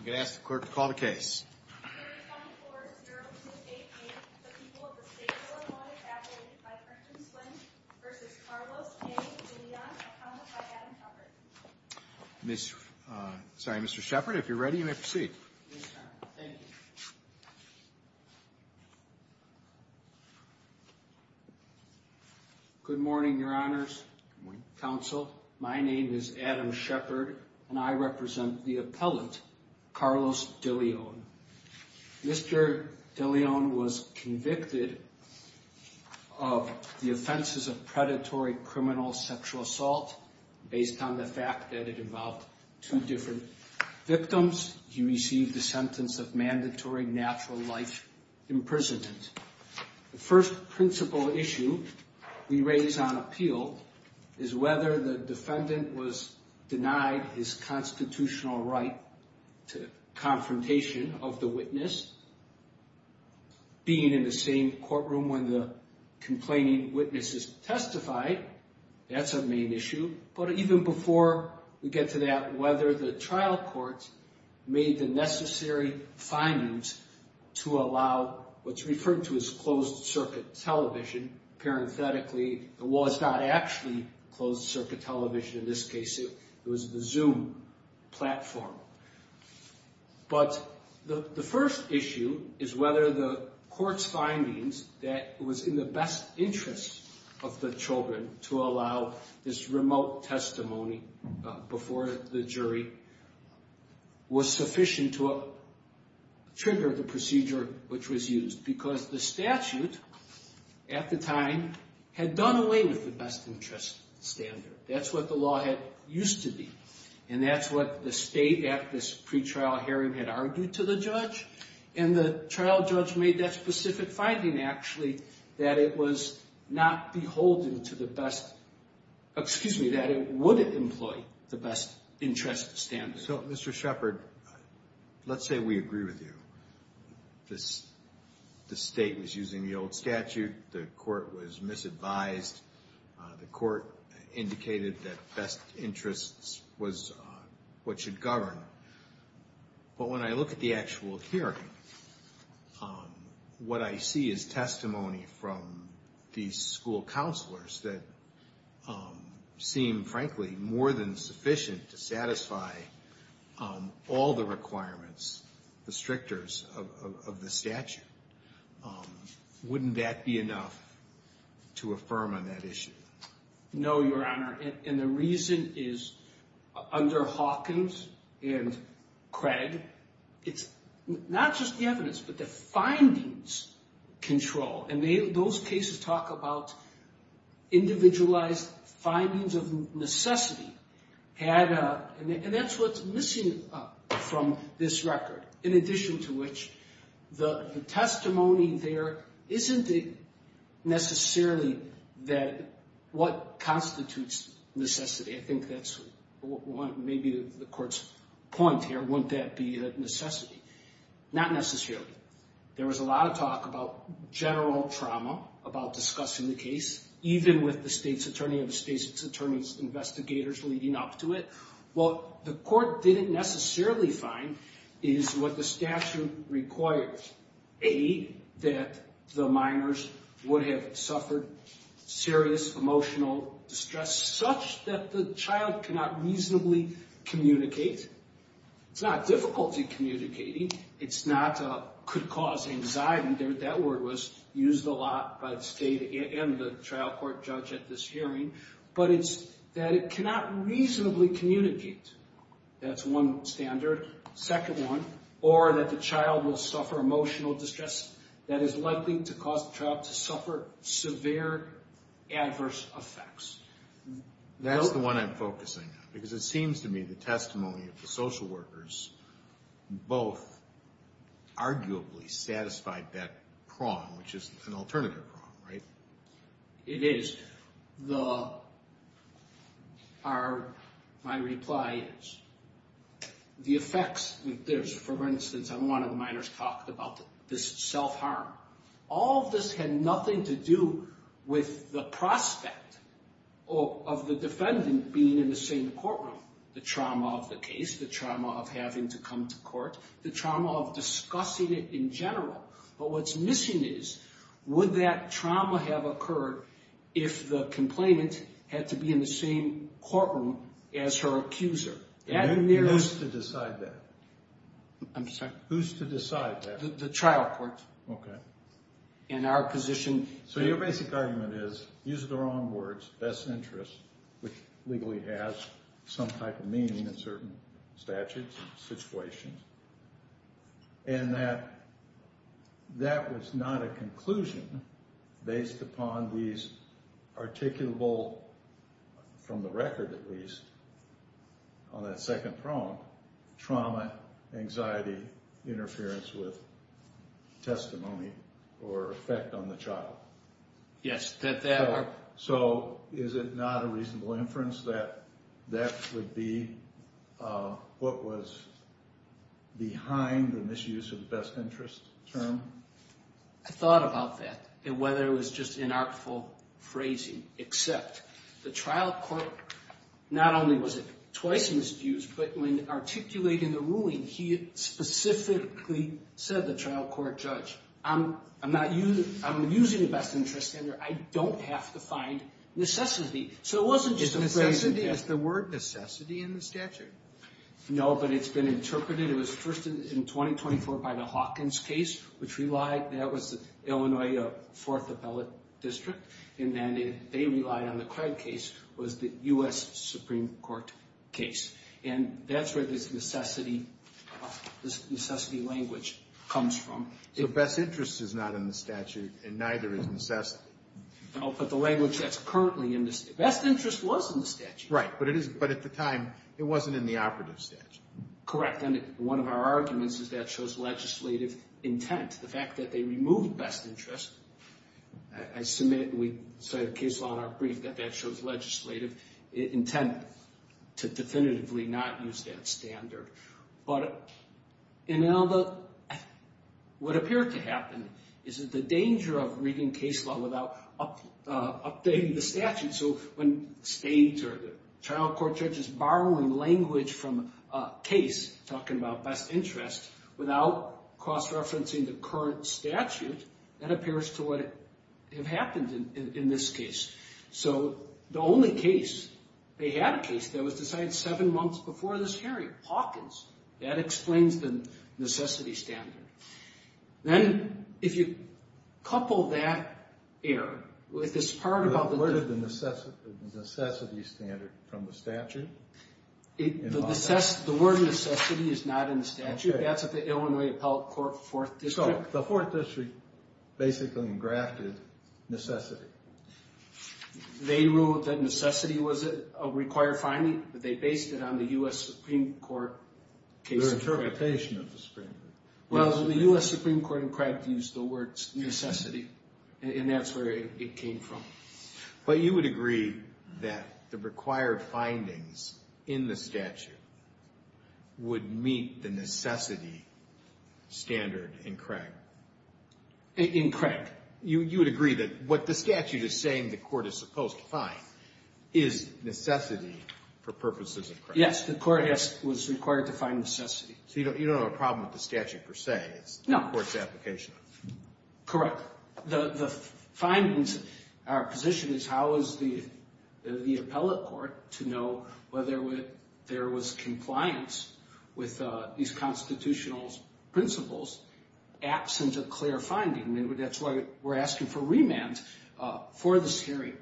I'm going to ask the clerk to call the case. Mr. Shepard, if you're ready, you may proceed. Good morning, Your Honors. Good morning, Counsel. My name is Adam Shepard and I represent the appellant, Carlos Deleon. Mr. Deleon was convicted of the offenses of predatory criminal sexual assault based on the fact that it involved two different victims. He received the sentence of mandatory natural life imprisonment. The first principle issue we raise on appeal is whether the defendant was denied his constitutional right to confrontation of the witness. Being in the same courtroom when the complaining witness is testified, that's a main issue. But even before we get to that, whether the trial court made the necessary findings to allow what's referred to as closed-circuit television. Parenthetically, it was not actually closed-circuit television. In this case, it was the Zoom platform. But the first issue is whether the court's findings that it was in the best interest of the children to allow this remote testimony before the jury was sufficient to trigger the procedure which was used. Because the statute at the time had done away with the best interest standard. That's what the law had used to be. And that's what the state at this pretrial hearing had argued to the judge. And the trial judge made that specific finding, actually, that it was not beholden to the best... Excuse me, that it wouldn't employ the best interest standard. So, Mr. Shepard, let's say we agree with you. The state was using the old statute. The court was misadvised. The court indicated that best interests was what should govern. But when I look at the actual hearing, what I see is testimony from the school counselors that seem, frankly, more than sufficient to satisfy all the requirements, the strictures of the statute. Wouldn't that be enough to affirm on that issue? No, Your Honor. And the reason is under Hawkins and Craig, it's not just the evidence, but the findings control. And those cases talk about individualized findings of necessity. And that's what's missing from this record, in addition to which the testimony there isn't necessarily what constitutes necessity. I think that's maybe the court's point here, wouldn't that be a necessity? Not necessarily. There was a lot of talk about general trauma, about discussing the case, even with the state's attorney and the state's attorney's investigators leading up to it. What the court didn't necessarily find is what the statute requires. A, that the minors would have suffered serious emotional distress, such that the child cannot reasonably communicate. It's not difficulty communicating. It's not could cause anxiety. That word was used a lot by the state and the trial court judge at this hearing. But it's that it cannot reasonably communicate. That's one standard. Second one, or that the child will suffer emotional distress that is likely to cause the child to suffer severe adverse effects. That's the one I'm focusing on, because it seems to me the testimony of the social workers both arguably satisfied that prong, which is an alternative prong, right? It is. My reply is the effects. For instance, one of the minors talked about this self-harm. All of this had nothing to do with the prospect of the defendant being in the same courtroom. The trauma of the case, the trauma of having to come to court, the trauma of discussing it in general. But what's missing is would that trauma have occurred if the complainant had to be in the same courtroom as her accuser? Who's to decide that? I'm sorry? Who's to decide that? The trial court. Okay. In our position. So your basic argument is, use the wrong words, best interest, which legally has some type of meaning in certain statutes and situations, and that that was not a conclusion based upon these articulable, from the record at least, on that second prong, trauma, anxiety, interference with testimony or effect on the child. So is it not a reasonable inference that that would be what was behind the misuse of best interest term? I thought about that, and whether it was just inartful phrasing, except the trial court not only was it twice misused, but when articulating the ruling, he specifically said, the trial court judge, I'm using the best interest standard. I don't have to find necessity. So it wasn't just a phrase. Is necessity, is the word necessity in the statute? No, but it's been interpreted. It was first in 2024 by the Hawkins case, which relied, that was the Illinois Fourth Appellate District, and then they relied on the Craig case, was the U.S. Supreme Court case. And that's where this necessity language comes from. So best interest is not in the statute, and neither is necessity. No, but the language that's currently in the statute. Best interest was in the statute. Right, but at the time, it wasn't in the operative statute. Correct, and one of our arguments is that shows legislative intent. The fact that they removed best interest, I submit, we cite a case law in our brief, that shows legislative intent to definitively not use that standard. But what appeared to happen is that the danger of reading case law without updating the statute, so when states or the trial court judge is borrowing language from a case, talking about best interest, without cross-referencing the current statute, that appears to have happened in this case. So the only case, they had a case, that was decided seven months before this hearing, Hawkins. That explains the necessity standard. Then if you couple that error with this part about the... Where did the necessity standard come from, the statute? The word necessity is not in the statute. That's at the Illinois Appellate Court Fourth District. So the Fourth District basically engrafted necessity. They ruled that necessity was a required finding, but they based it on the U.S. Supreme Court case. Their interpretation of the Supreme Court. Well, the U.S. Supreme Court used the word necessity, and that's where it came from. But you would agree that the required findings in the statute would meet the necessity standard in Craig? In Craig. You would agree that what the statute is saying the court is supposed to find is necessity for purposes of Craig? Yes, the court was required to find necessity. So you don't have a problem with the statute per se. No. It's the court's application. Correct. The findings, our position is how is the appellate court to know whether there was compliance with these constitutional principles absent a clear finding. That's why we're asking for remand for this hearing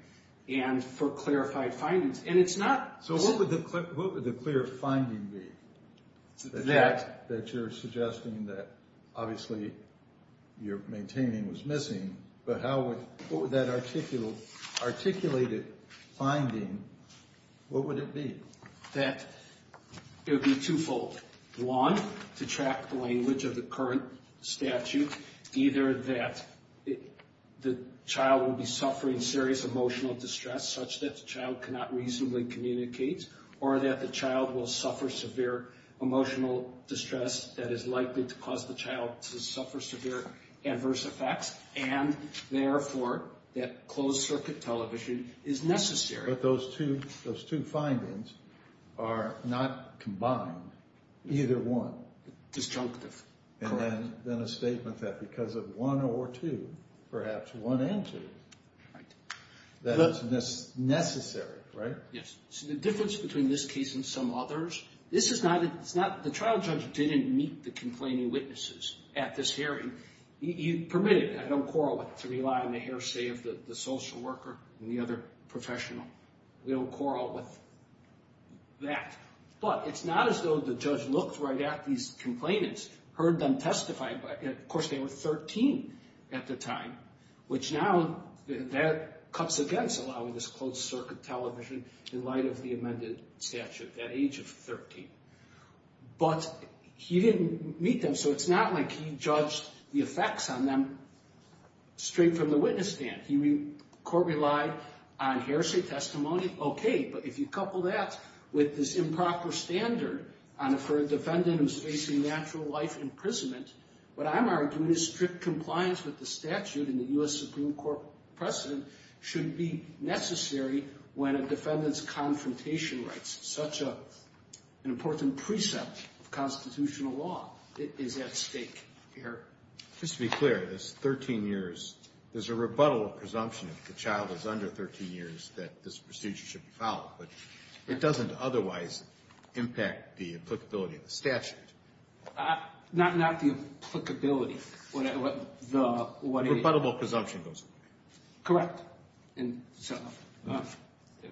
and for clarified findings. And it's not. So what would the clear finding be? That. That you're suggesting that obviously you're maintaining was missing, but how would that articulated finding, what would it be? That it would be twofold. One, to track the language of the current statute, either that the child would be suffering serious emotional distress such that the child cannot reasonably communicate, or that the child will suffer severe emotional distress that is likely to cause the child to suffer severe adverse effects, and therefore that closed circuit television is necessary. But those two findings are not combined. Either one. Disjunctive. Correct. And then a statement that because of one or two, perhaps one and two, that it's necessary, right? Yes. The difference between this case and some others, this is not, it's not, the trial judge didn't meet the complaining witnesses at this hearing. He permitted, I don't quarrel with it, the social worker and the other professional. We don't quarrel with that. But it's not as though the judge looked right at these complainants, heard them testify. Of course, they were 13 at the time, which now that cuts against allowing this closed circuit television in light of the amended statute at age of 13. But he didn't meet them, so it's not like he judged the effects on them straight from the witness stand. The court relied on heresy, testimony, okay, but if you couple that with this improper standard for a defendant who's facing natural life imprisonment, what I'm arguing is strict compliance with the statute and the U.S. Supreme Court precedent should be necessary when a defendant's confrontation rights, such an important precept of constitutional law, is at stake here. Just to be clear, this 13 years, there's a rebuttal presumption if the child is under 13 years that this procedure should be followed, but it doesn't otherwise impact the applicability of the statute. Not the applicability. Rebuttable presumption goes away. Correct.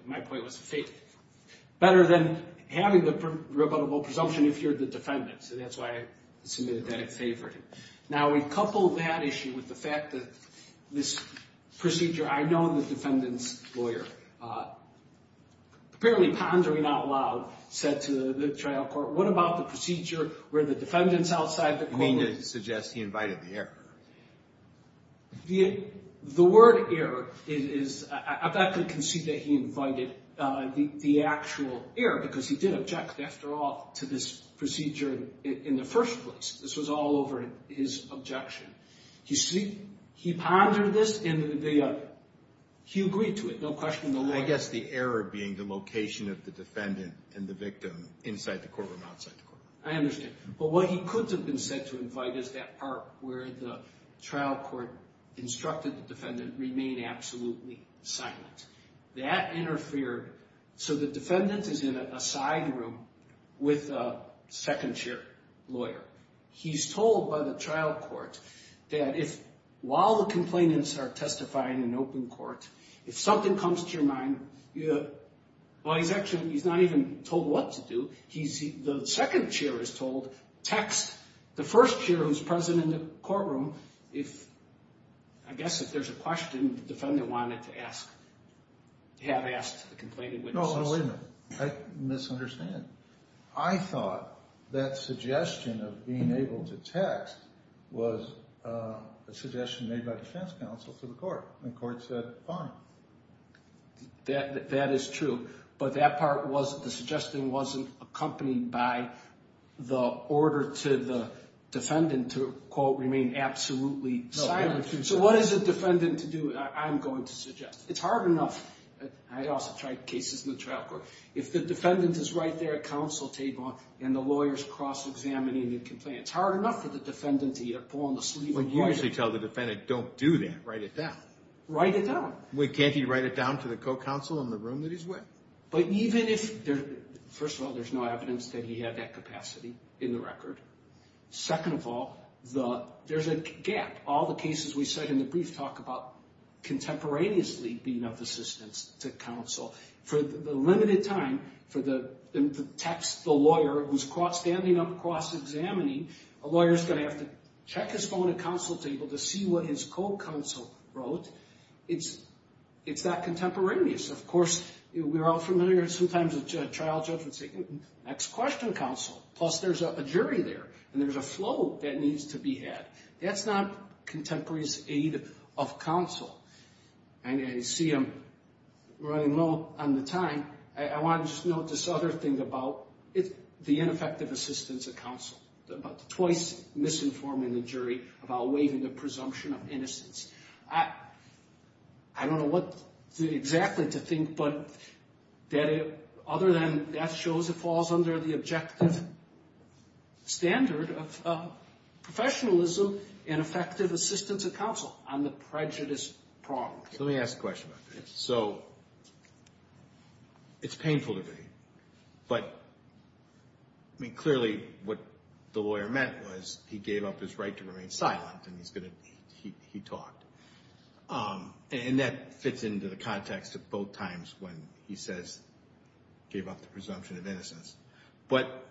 My point was the same. Better than having the rebuttable presumption if you're the defendant, so that's why I submitted that at favor. Now, we couple that issue with the fact that this procedure, I know the defendant's lawyer, apparently pondering out loud, said to the trial court, what about the procedure where the defendant's outside the court? You mean to suggest he invited the error? The word error is, I'm not going to concede that he invited the actual error because he did object, after all, to this procedure in the first place. This was all over his objection. He pondered this and he agreed to it, no question in the law. I guess the error being the location of the defendant and the victim inside the courtroom, outside the courtroom. I understand. But what he could have been said to invite is that part where the trial court instructed the defendant remain absolutely silent. That interfered, so the defendant is in a side room with a second chair lawyer. He's told by the trial court that while the complainants are testifying in open court, if something comes to your mind, well, he's not even told what to do. The second chair is told, text the first chair who's present in the courtroom, I guess if there's a question the defendant wanted to ask, have asked the complaining witnesses. No, no, wait a minute. I misunderstand. I thought that suggestion of being able to text was a suggestion made by defense counsel to the court, and the court said fine. That is true, but that part was, the suggestion wasn't accompanied by the order to the defendant to, quote, remain absolutely silent. So what is the defendant to do? I'm going to suggest. It's hard enough. I also tried cases in the trial court. If the defendant is right there at counsel table and the lawyers cross-examining the complaint, it's hard enough for the defendant to pull on the sleeve of the lawyer. Well, you usually tell the defendant don't do that. Write it down. Write it down. Can't he write it down to the co-counsel in the room that he's with? But even if, first of all, there's no evidence that he had that capacity in the record. Second of all, there's a gap. All the cases we said in the brief talk about contemporaneously being of assistance to counsel. For the limited time for the text, the lawyer, who's standing up cross-examining, a lawyer's going to have to check his phone at counsel table to see what his co-counsel wrote. It's that contemporaneous. Of course, we're all familiar sometimes with trial judges and say, next question, counsel. Plus, there's a jury there, and there's a flow that needs to be had. That's not contemporaneous aid of counsel. I see I'm running low on the time. I want to just note this other thing about the ineffective assistance of counsel, about twice misinforming the jury about waiving the presumption of innocence. I don't know what exactly to think, but other than that shows it falls under the objective standard of professionalism and effective assistance of counsel on the prejudice problem. Let me ask a question about this. It's painful to me, but clearly what the lawyer meant was he gave up his right to remain silent, and he talked. And that fits into the context of both times when he says he gave up the presumption of innocence. But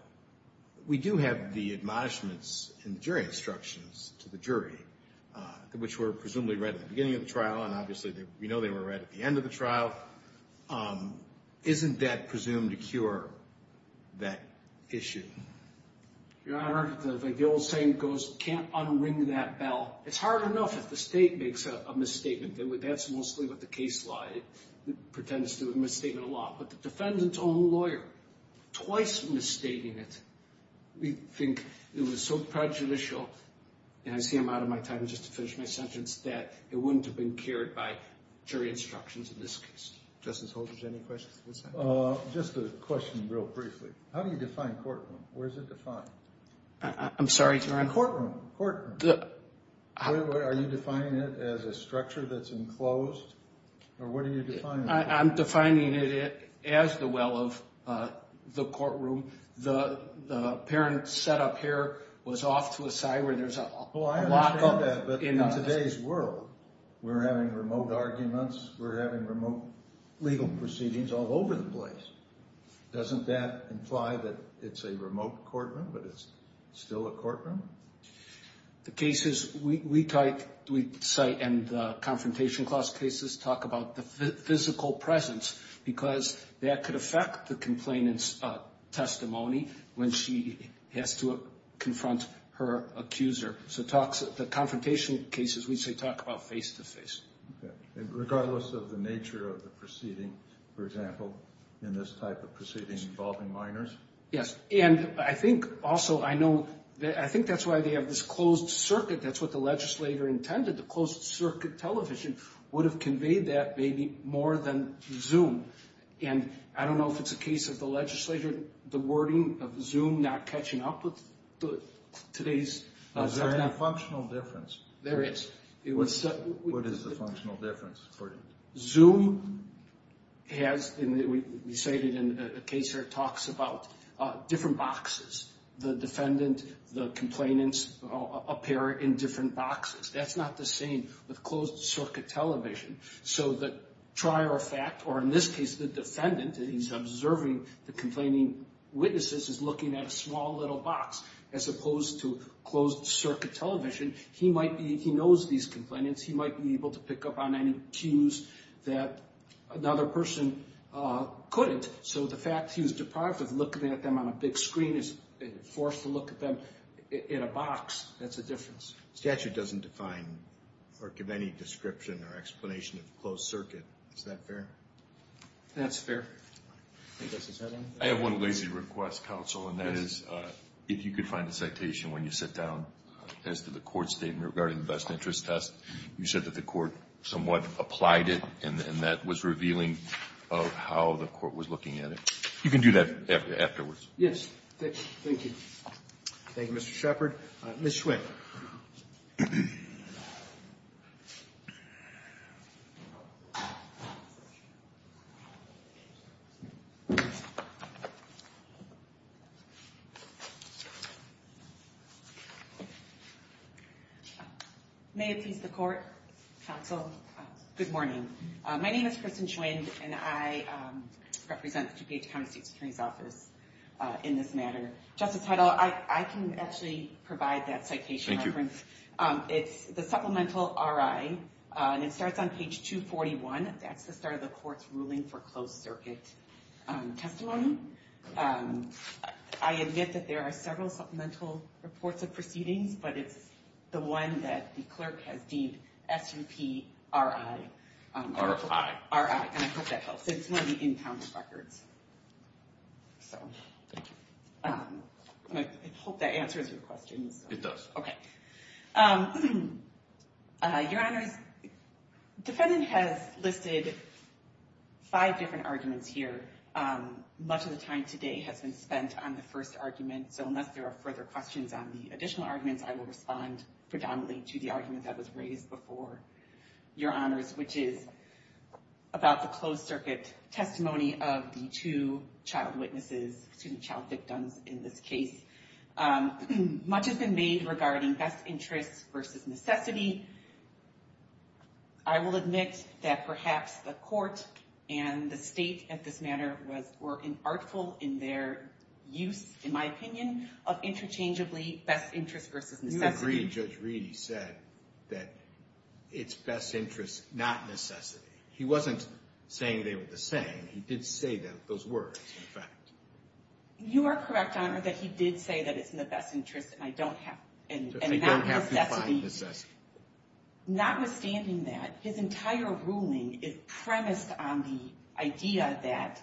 we do have the admonishments and jury instructions to the jury, which were presumably read at the beginning of the trial, and obviously we know they were read at the end of the trial. Isn't that presumed to cure that issue? Your Honor, like the old saying goes, can't unring that bell. It's hard enough if the State makes a misstatement. That's mostly what the case lie. It pretends to be a misstatement of law. But the defendant's own lawyer twice misstating it, we think it was so prejudicial, and I see I'm out of my time just to finish my sentence, that it wouldn't have been cured by jury instructions in this case. Justice Holdren, any questions? Just a question real briefly. How do you define courtroom? Where is it defined? I'm sorry, Your Honor. Courtroom. Courtroom. Are you defining it as a structure that's enclosed? Or what are you defining? I'm defining it as the well of the courtroom. The parent setup here was off to a side where there's a lot of— Well, I understand that. But in today's world, we're having remote arguments. We're having remote legal proceedings all over the place. Doesn't that imply that it's a remote courtroom, but it's still a courtroom? The cases we cite in the confrontation clause cases talk about the physical presence because that could affect the complainant's testimony when she has to confront her accuser. So the confrontation cases we say talk about face-to-face. Regardless of the nature of the proceeding, for example, in this type of proceeding involving minors? Yes. And I think also I know—I think that's why they have this closed circuit. That's what the legislator intended. The closed circuit television would have conveyed that maybe more than Zoom. And I don't know if it's a case of the legislature, the wording of Zoom not catching up with today's— Is there any functional difference? There is. What is the functional difference? Zoom has—we say it in a case where it talks about different boxes. The defendant, the complainants appear in different boxes. That's not the same with closed circuit television. So the trier of fact, or in this case, the defendant, he's observing the complaining witnesses, is looking at a small little box as opposed to closed circuit television. He might be—he knows these complainants. He might be able to pick up on any cues that another person couldn't. So the fact he was deprived of looking at them on a big screen is forced to look at them in a box. That's a difference. Statute doesn't define or give any description or explanation of closed circuit. Is that fair? That's fair. I have one lazy request, counsel, and that is if you could find a citation when you sit down as to the Court's statement regarding the best interest test. You said that the Court somewhat applied it, and that was revealing of how the Court was looking at it. You can do that afterwards. Thank you. Thank you, Mr. Shepard. Ms. Schwinn. May it please the Court, counsel, good morning. My name is Kristen Schwinn, and I represent the DuPage County State Security's Office in this matter. Justice Heidel, I can actually provide that citation reference. It's the Supplemental R.I., and it starts on page 241. That's the start of the Court's ruling for closed circuit testimony. I admit that there are several supplemental reports of proceedings, but it's the one that the clerk has deemed S.U.P.R.I. R.I. R.I., and I hope that helps. It's one of the in-counts records. Thank you. I hope that answers your question. It does. Your Honors, the defendant has listed five different arguments here. Much of the time today has been spent on the first argument, so unless there are further questions on the additional arguments, I will respond predominantly to the argument that Your Honors, which is about the closed circuit testimony of the two child witnesses, excuse me, child victims in this case. Much has been made regarding best interests versus necessity. I will admit that perhaps the Court and the State at this matter were inartful in their use, in my opinion, of interchangeably best interests versus necessity. I agree. Judge Reedy said that it's best interests, not necessity. He wasn't saying they were the same. He did say those words, in fact. You are correct, Your Honor, that he did say that it's in the best interests and not necessity. Notwithstanding that, his entire ruling is premised on the idea that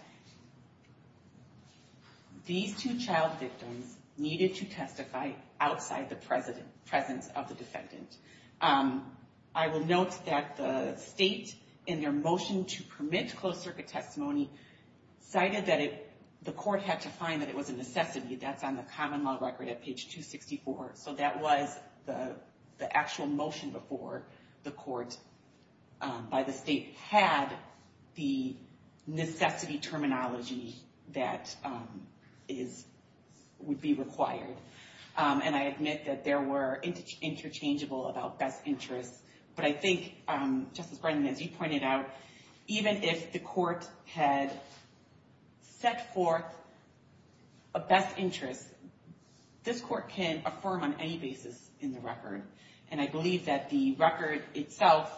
these two child victims needed to testify outside the presence of the defendant. I will note that the State, in their motion to permit closed circuit testimony, cited that the Court had to find that it was a necessity. That's on the common law record at page 264, so that was the actual motion before the Court by the State had the necessity terminology that would be required. And I admit that there were interchangeable about best interests. But I think, Justice Brendan, as you pointed out, even if the Court had set forth a best interest, this Court can affirm on any basis in the record. And I believe that the record itself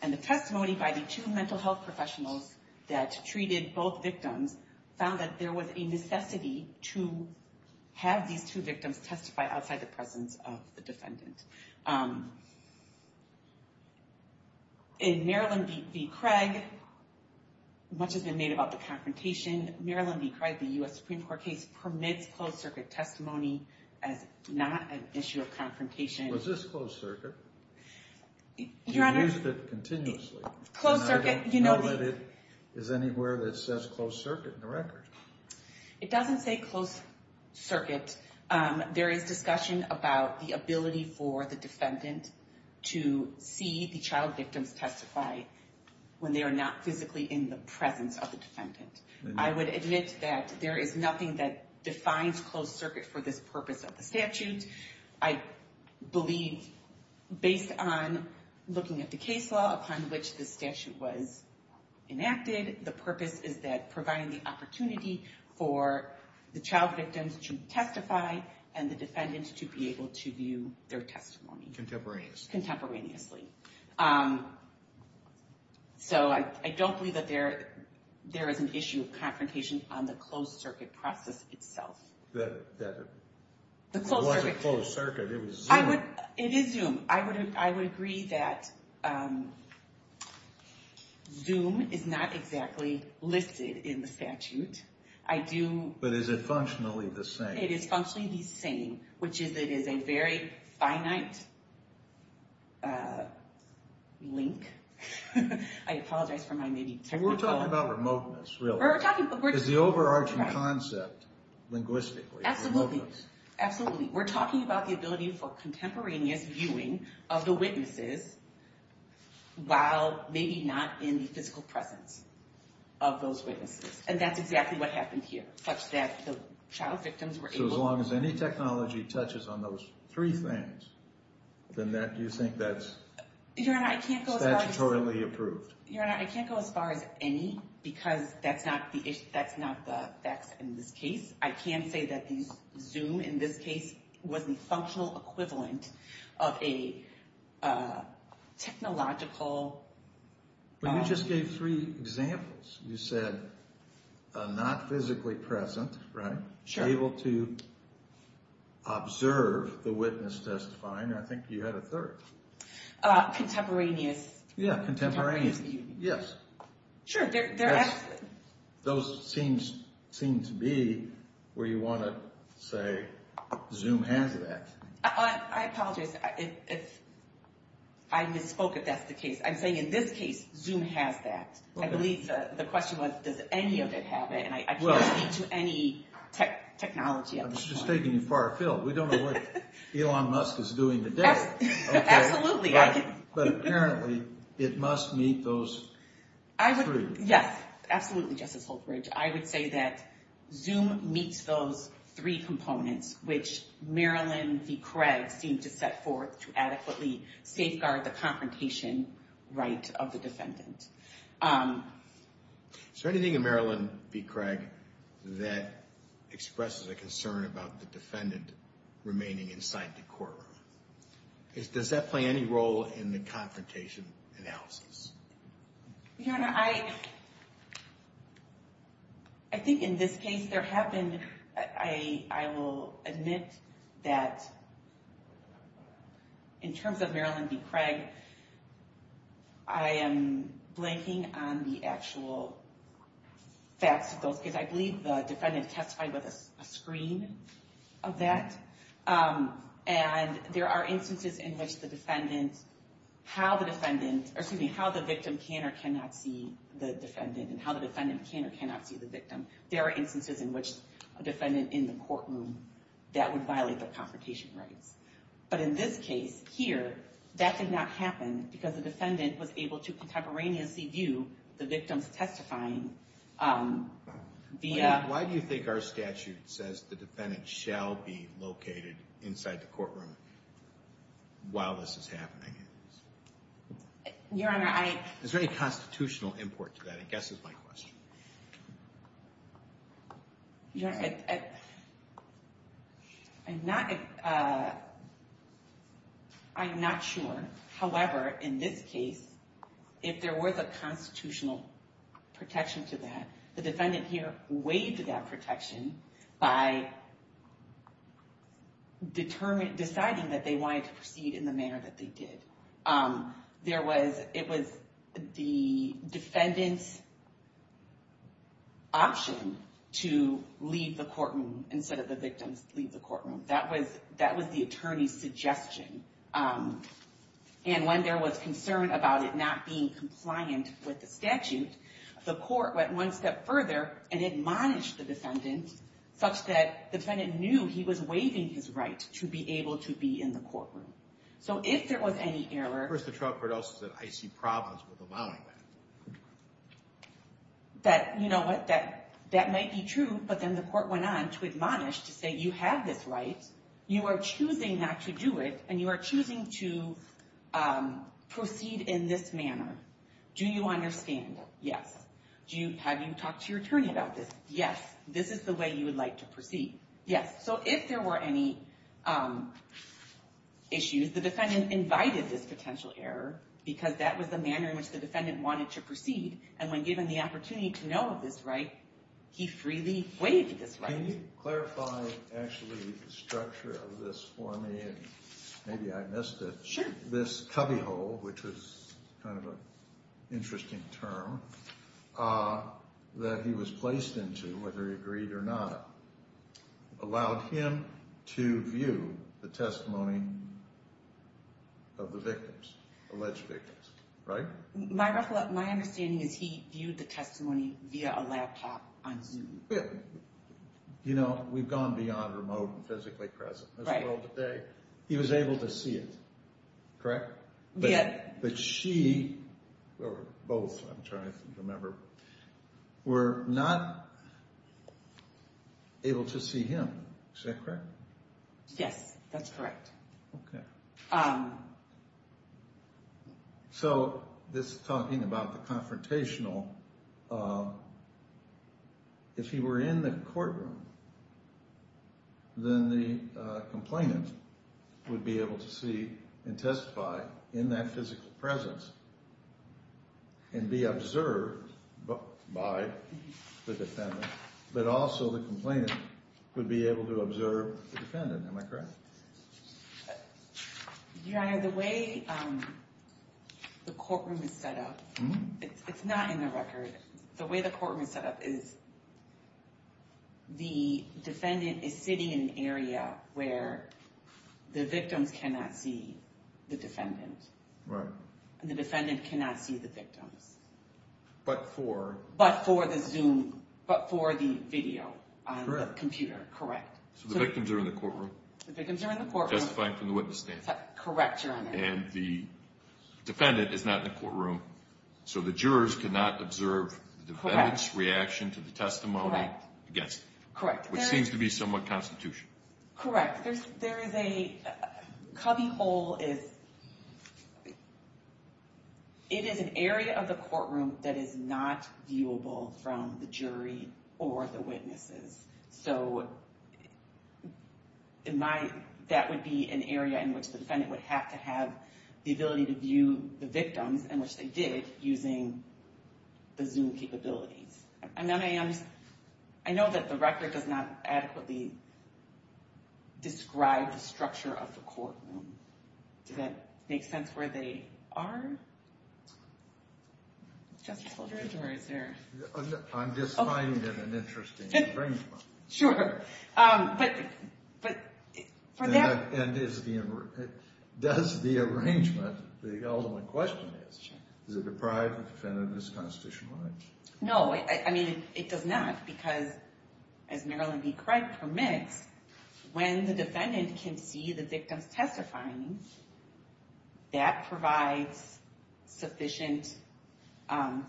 and the testimony by the two mental health professionals that treated both victims found that there was a necessity to have these two victims testify outside the presence of the defendant. In Maryland v. Craig, much has been made about the confrontation. Maryland v. Craig, the U.S. Supreme Court case, permits closed circuit testimony as not an issue of confrontation. Was this closed circuit? Your Honor... You used it continuously. Closed circuit... And I don't know that it is anywhere that says closed circuit in the record. It doesn't say closed circuit. There is discussion about the ability for the defendant to see the child victims testify when they are not physically in the presence of the defendant. I would admit that there is nothing that defines closed circuit for this purpose of the statute. I believe, based on looking at the case law upon which the statute was enacted, the purpose is that providing the opportunity for the child victims to testify and the defendant to be able to view their testimony. Contemporaneously. So I don't believe that there is an issue of confrontation on the closed circuit process itself. That... The closed circuit... It wasn't closed circuit. It was Zoom. It is Zoom. I would agree that Zoom is not exactly listed in the statute. I do... But is it functionally the same? It is functionally the same, which is that it is a very finite link. I apologize for my maybe technical... We're talking about remoteness, really. We're talking... Because the overarching concept, linguistically, is remoteness. Absolutely. We're talking about the ability for contemporaneous viewing of the witnesses while maybe not in the physical presence of those witnesses. And that's exactly what happened here, such that the child victims were able... So as long as any technology touches on those three things, then that... Do you think that's... Your Honor, I can't go as far as... Statutorily approved. Your Honor, I can't go as far as any because that's not the facts in this case. I can say that Zoom, in this case, was the functional equivalent of a technological... But you just gave three examples. You said not physically present, right? Able to observe the witness testifying. I think you had a third. Contemporaneous. Yeah, contemporaneous. Yes. Sure. Those seem to be where you want to say Zoom has that. I apologize if I misspoke, if that's the case. I'm saying in this case, Zoom has that. I believe the question was, does any of it have it? And I can't speak to any technology at this point. I'm just taking you far afield. We don't know what Elon Musk is doing today. Absolutely. But apparently, it must meet those three. Yes. Absolutely, Justice Holtbridge. I would say that Zoom meets those three components, which Marilyn v. Craig seemed to set forth to adequately safeguard the confrontation right of the defendant. Is there anything in Marilyn v. Craig that expresses a concern about the defendant remaining inside the courtroom? Does that play any role in the confrontation analysis? Your Honor, I think in this case, there have been, I will admit that in terms of Marilyn v. Craig, I am blanking on the actual facts of those cases. I believe the defendant testified with a screen of that. And there are instances in which the defendant, how the defendant, or excuse me, how the victim can or cannot see the defendant, and how the defendant can or cannot see the victim. There are instances in which a defendant in the courtroom, that would violate the confrontation rights. But in this case here, that did not happen because the defendant was able to contemporaneously view the victim's testifying via... Why do you think our statute says the defendant shall be located inside the courtroom while this is happening? Your Honor, I... Is there any constitutional import to that, I guess is my question. Your Honor, I'm not sure. However, in this case, if there was a constitutional protection to that, the defendant here waived that protection by deciding that they wanted to proceed in the manner that they did. It was the defendant's option to leave the courtroom instead of the victim's leave the courtroom. That was the attorney's suggestion. And when there was concern about it not being compliant with the statute, the court went one step further and admonished the defendant such that the defendant knew he was waiving his right to be able to be in the courtroom. So if there was any error... First, the trial court also said, I see problems with allowing that. That, you know what, that might be true, but then the court went on to admonish to say, you have this right, you are choosing not to do it, and you are choosing to proceed in this manner. Do you understand? Yes. Have you talked to your attorney about this? Yes. This is the way you would like to proceed? Yes. So if there were any issues, the defendant invited this potential error because that was the manner in which the defendant wanted to proceed. And when given the opportunity to know of this right, he freely waived this right. Can you clarify, actually, the structure of this for me? Maybe I missed it. Sure. This cubbyhole, which is kind of an interesting term, that he was placed into, whether he agreed or not, allowed him to view the testimony of the victims, alleged victims. Right? My understanding is he viewed the testimony via a laptop on Zoom. You know, we've gone beyond remote and physically present in this world today. He was able to see it, correct? Yes. But she, or both, I'm trying to remember, were not able to see him. Is that correct? Yes, that's correct. Okay. So this talking about the confrontational, if he were in the courtroom, then the complainant would be able to see and testify in that physical presence and be observed by the defendant, but also the complainant would be able to observe the defendant. Am I correct? Your Honor, the way the courtroom is set up, it's not in the record, the way the courtroom is set up is the defendant is sitting in an area where the victims cannot see the defendant. Right. And the defendant cannot see the victims. But for? But for the Zoom, but for the video on the computer. Correct. So the victims are in the courtroom. The victims are in the courtroom. Testifying from the witness standpoint. Correct, Your Honor. And the defendant is not in the courtroom, so the jurors cannot observe the defendant's reaction to the testimony against them. Correct. Which seems to be somewhat constitutional. Correct. There is a cubbyhole, it is an area of the courtroom that is not viewable from the jury or the witnesses. So in my, that would be an area in which the defendant would have to have the ability to view the victims, and which they did, using the Zoom capabilities. And then I am, I know that the record does not adequately describe the structure of the courtroom. Does that make sense where they are? Justice Holdren, or is there? I'm just finding it an interesting arrangement. Sure. But, but for that. And is the, does the arrangement, the ultimate question is. Sure. Is it deprived the defendant of his constitutional right? No, I mean, it does not. Because as Maryland v. Craig permits, when the defendant can see the victim's testimony, that provides sufficient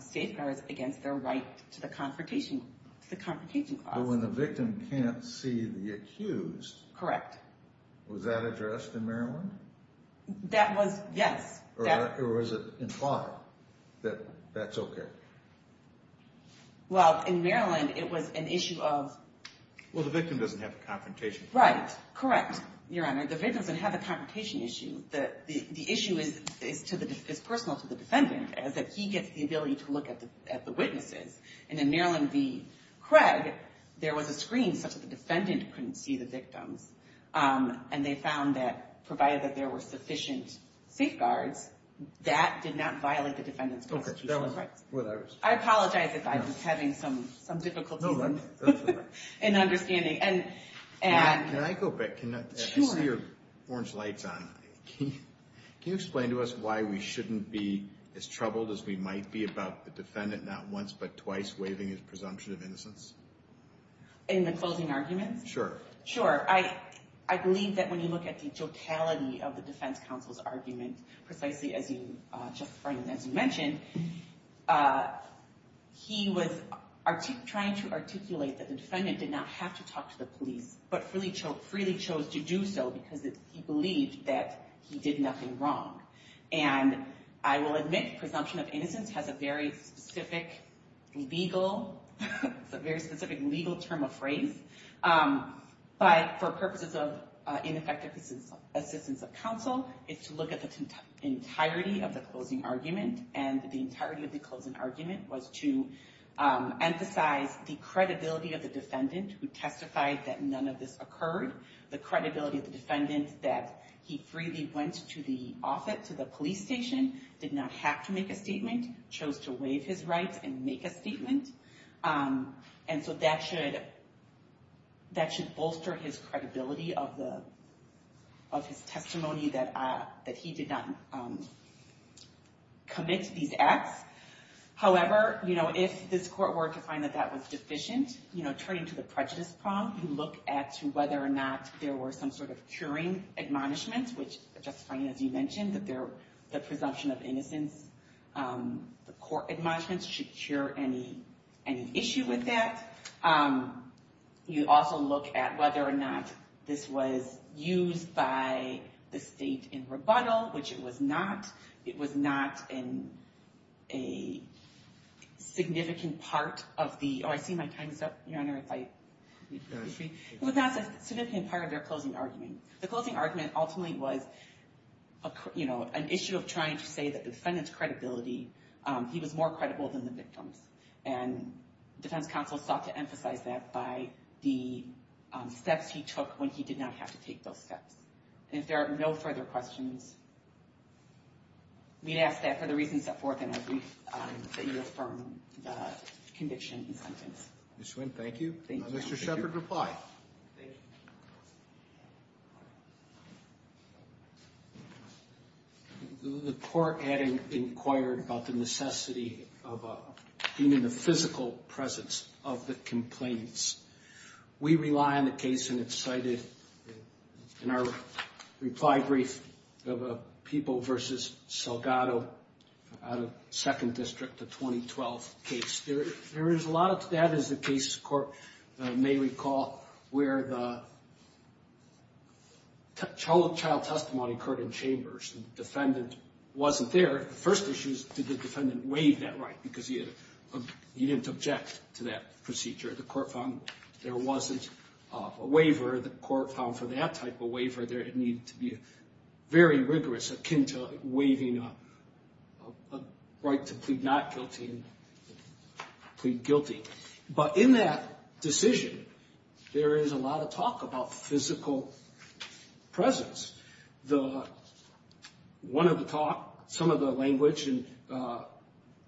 safeguards against their right to the confrontation clause. But when the victim can't see the accused. Correct. Was that addressed in Maryland? That was, yes. Or was it implied that that's okay? Well, in Maryland, it was an issue of. Well, the victim doesn't have a confrontation. Right. Correct, Your Honor. The victim doesn't have a confrontation issue. The issue is personal to the defendant, as if he gets the ability to look at the witnesses. And in Maryland v. Craig, there was a screen such that the defendant couldn't see the victims. And they found that, provided that there were sufficient safeguards, that did not violate the defendant's constitutional rights. I apologize if I'm just having some difficulties in understanding. Can I go back? Sure. I see your orange lights on. Can you explain to us why we shouldn't be as troubled as we might be about the defendant not once but twice waiving his presumption of innocence? In the closing arguments? Sure. Sure. I believe that when you look at the totality of the defense counsel's argument, precisely as you just mentioned, he was trying to articulate that the defendant did not have to talk to the police, but freely chose to do so because he believed that he did nothing wrong. And I will admit presumption of innocence has a very specific legal term of phrase. But for purposes of ineffective assistance of counsel, it's to look at the entirety of the closing argument. And the entirety of the closing argument was to emphasize the credibility of the defendant who testified that none of this occurred. The credibility of the defendant that he freely went to the police station, did not have to make a statement, chose to waive his rights and make a statement. And so that should bolster his credibility of his testimony that he did not commit these acts. However, you know, if this court were to find that that was deficient, you know, turning to the prejudice problem, you look at whether or not there were some sort of curing admonishments, which just fine as you mentioned, that the presumption of innocence, the court admonishments should cure any issue with that. You also look at whether or not this was used by the state in rebuttal, which it was not. It was not in a significant part of the, oh, I see my time is up, Your Honor. It was not a significant part of their closing argument. The closing argument ultimately was, you know, an issue of trying to say that the defendant's credibility, he was more credible than the victims. And defense counsel sought to emphasize that by the steps he took when he did not have to take those steps. And if there are no further questions, we ask that for the reasons set forth in our brief, that you affirm the conviction and sentence. Ms. Swinn, thank you. Thank you. Mr. Shepard, reply. Thank you. The court had inquired about the necessity of being in the physical presence of the complaints. We rely on the case, and it's cited in our reply brief of a People v. Salgado out of 2nd District, the 2012 case. There is a lot of that, as the case court may recall, where the child testimony occurred in chambers. The defendant wasn't there. The first issue is, did the defendant waive that right? Because he didn't object to that procedure. The court found there wasn't a waiver. The court found for that type of waiver, there needed to be a very rigorous akin to waiving a right to plead not guilty and plead guilty. But in that decision, there is a lot of talk about physical presence. One of the talk, some of the language in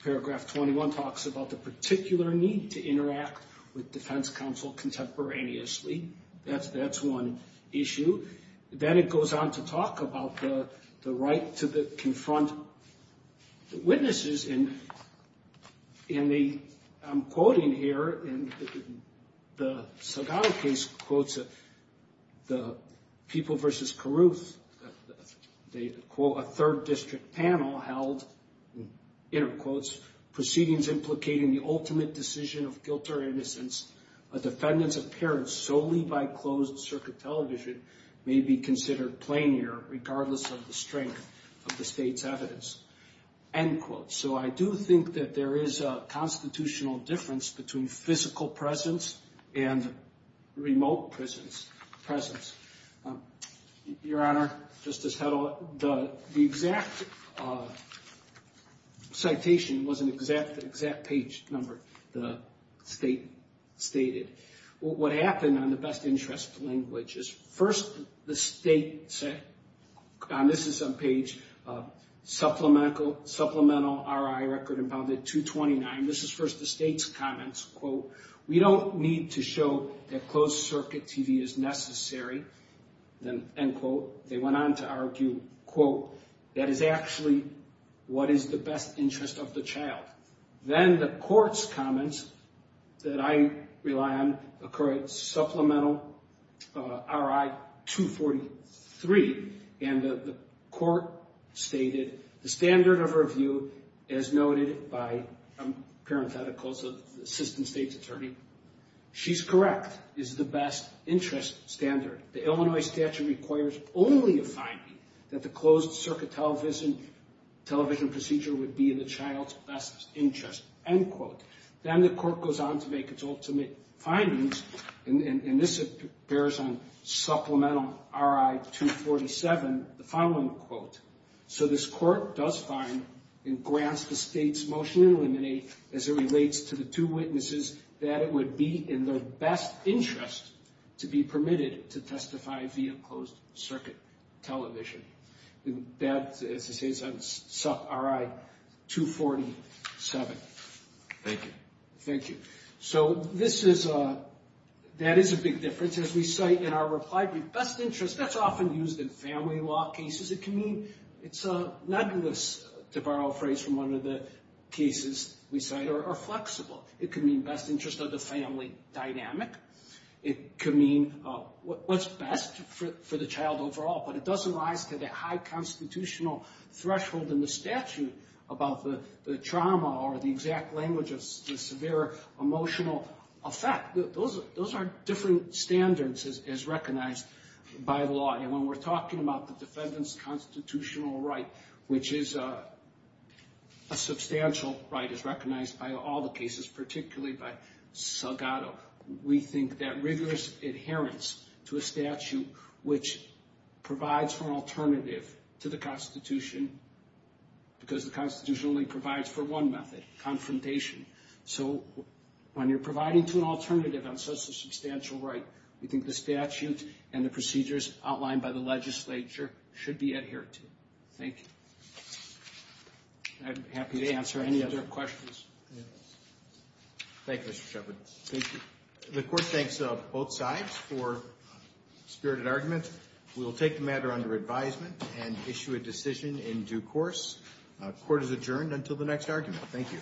paragraph 21 talks about the particular need to interact with defense counsel contemporaneously. That's one issue. Then it goes on to talk about the right to confront witnesses. I'm quoting here. The Salgado case quotes the People v. Carruth. They quote, a 3rd District panel held, inter-quotes, proceedings implicating the ultimate decision of guilt or innocence. A defendant's appearance solely by closed-circuit television may be considered plain here, regardless of the strength of the state's evidence. End quote. So I do think that there is a constitutional difference between physical presence and remote presence. Your Honor, just to settle it, the exact citation was an exact page number the state stated. What happened on the best interest language is first the state said, and this is on page supplemental RI record and bounded 229. This is first the state's comments, quote, we don't need to show that closed-circuit TV is necessary. End quote. They went on to argue, quote, that is actually what is the best interest of the child. Then the court's comments that I rely on occurred supplemental RI 243. And the court stated the standard of review, as noted by parentheticals of the assistant state's attorney, she's correct, is the best interest standard. The Illinois statute requires only a finding that the closed-circuit television procedure would be in the child's best interest. End quote. Then the court goes on to make its ultimate findings, and this bears on supplemental RI 247, the following quote. So this court does find and grants the state's motion to eliminate as it relates to the two witnesses that it would be in their best interest to be permitted to testify via closed-circuit television. That, as I say, is on supplemental RI 247. Thank you. Thank you. So this is a – that is a big difference. As we cite in our reply brief, best interest, that's often used in family law cases. It can mean – it's a – not to borrow a phrase from one of the cases we cite, or flexible. It can mean best interest of the family dynamic. It could mean what's best for the child overall, but it doesn't rise to that high constitutional threshold in the statute about the trauma or the exact language of the severe emotional effect. Those are different standards as recognized by the law, and when we're talking about the defendant's constitutional right, which is a substantial right as recognized by all the cases, particularly by Salgado, we think that rigorous adherence to a statute which provides for an alternative to the Constitution, because the Constitution only provides for one method, confrontation. So when you're providing to an alternative on such a substantial right, we think the statute and the procedures outlined by the legislature should be adhered to. Thank you. I'm happy to answer any other questions. Thank you, Mr. Shepherd. Thank you. The court thanks both sides for spirited argument. We will take the matter under advisement and issue a decision in due course. Court is adjourned until the next argument. Thank you.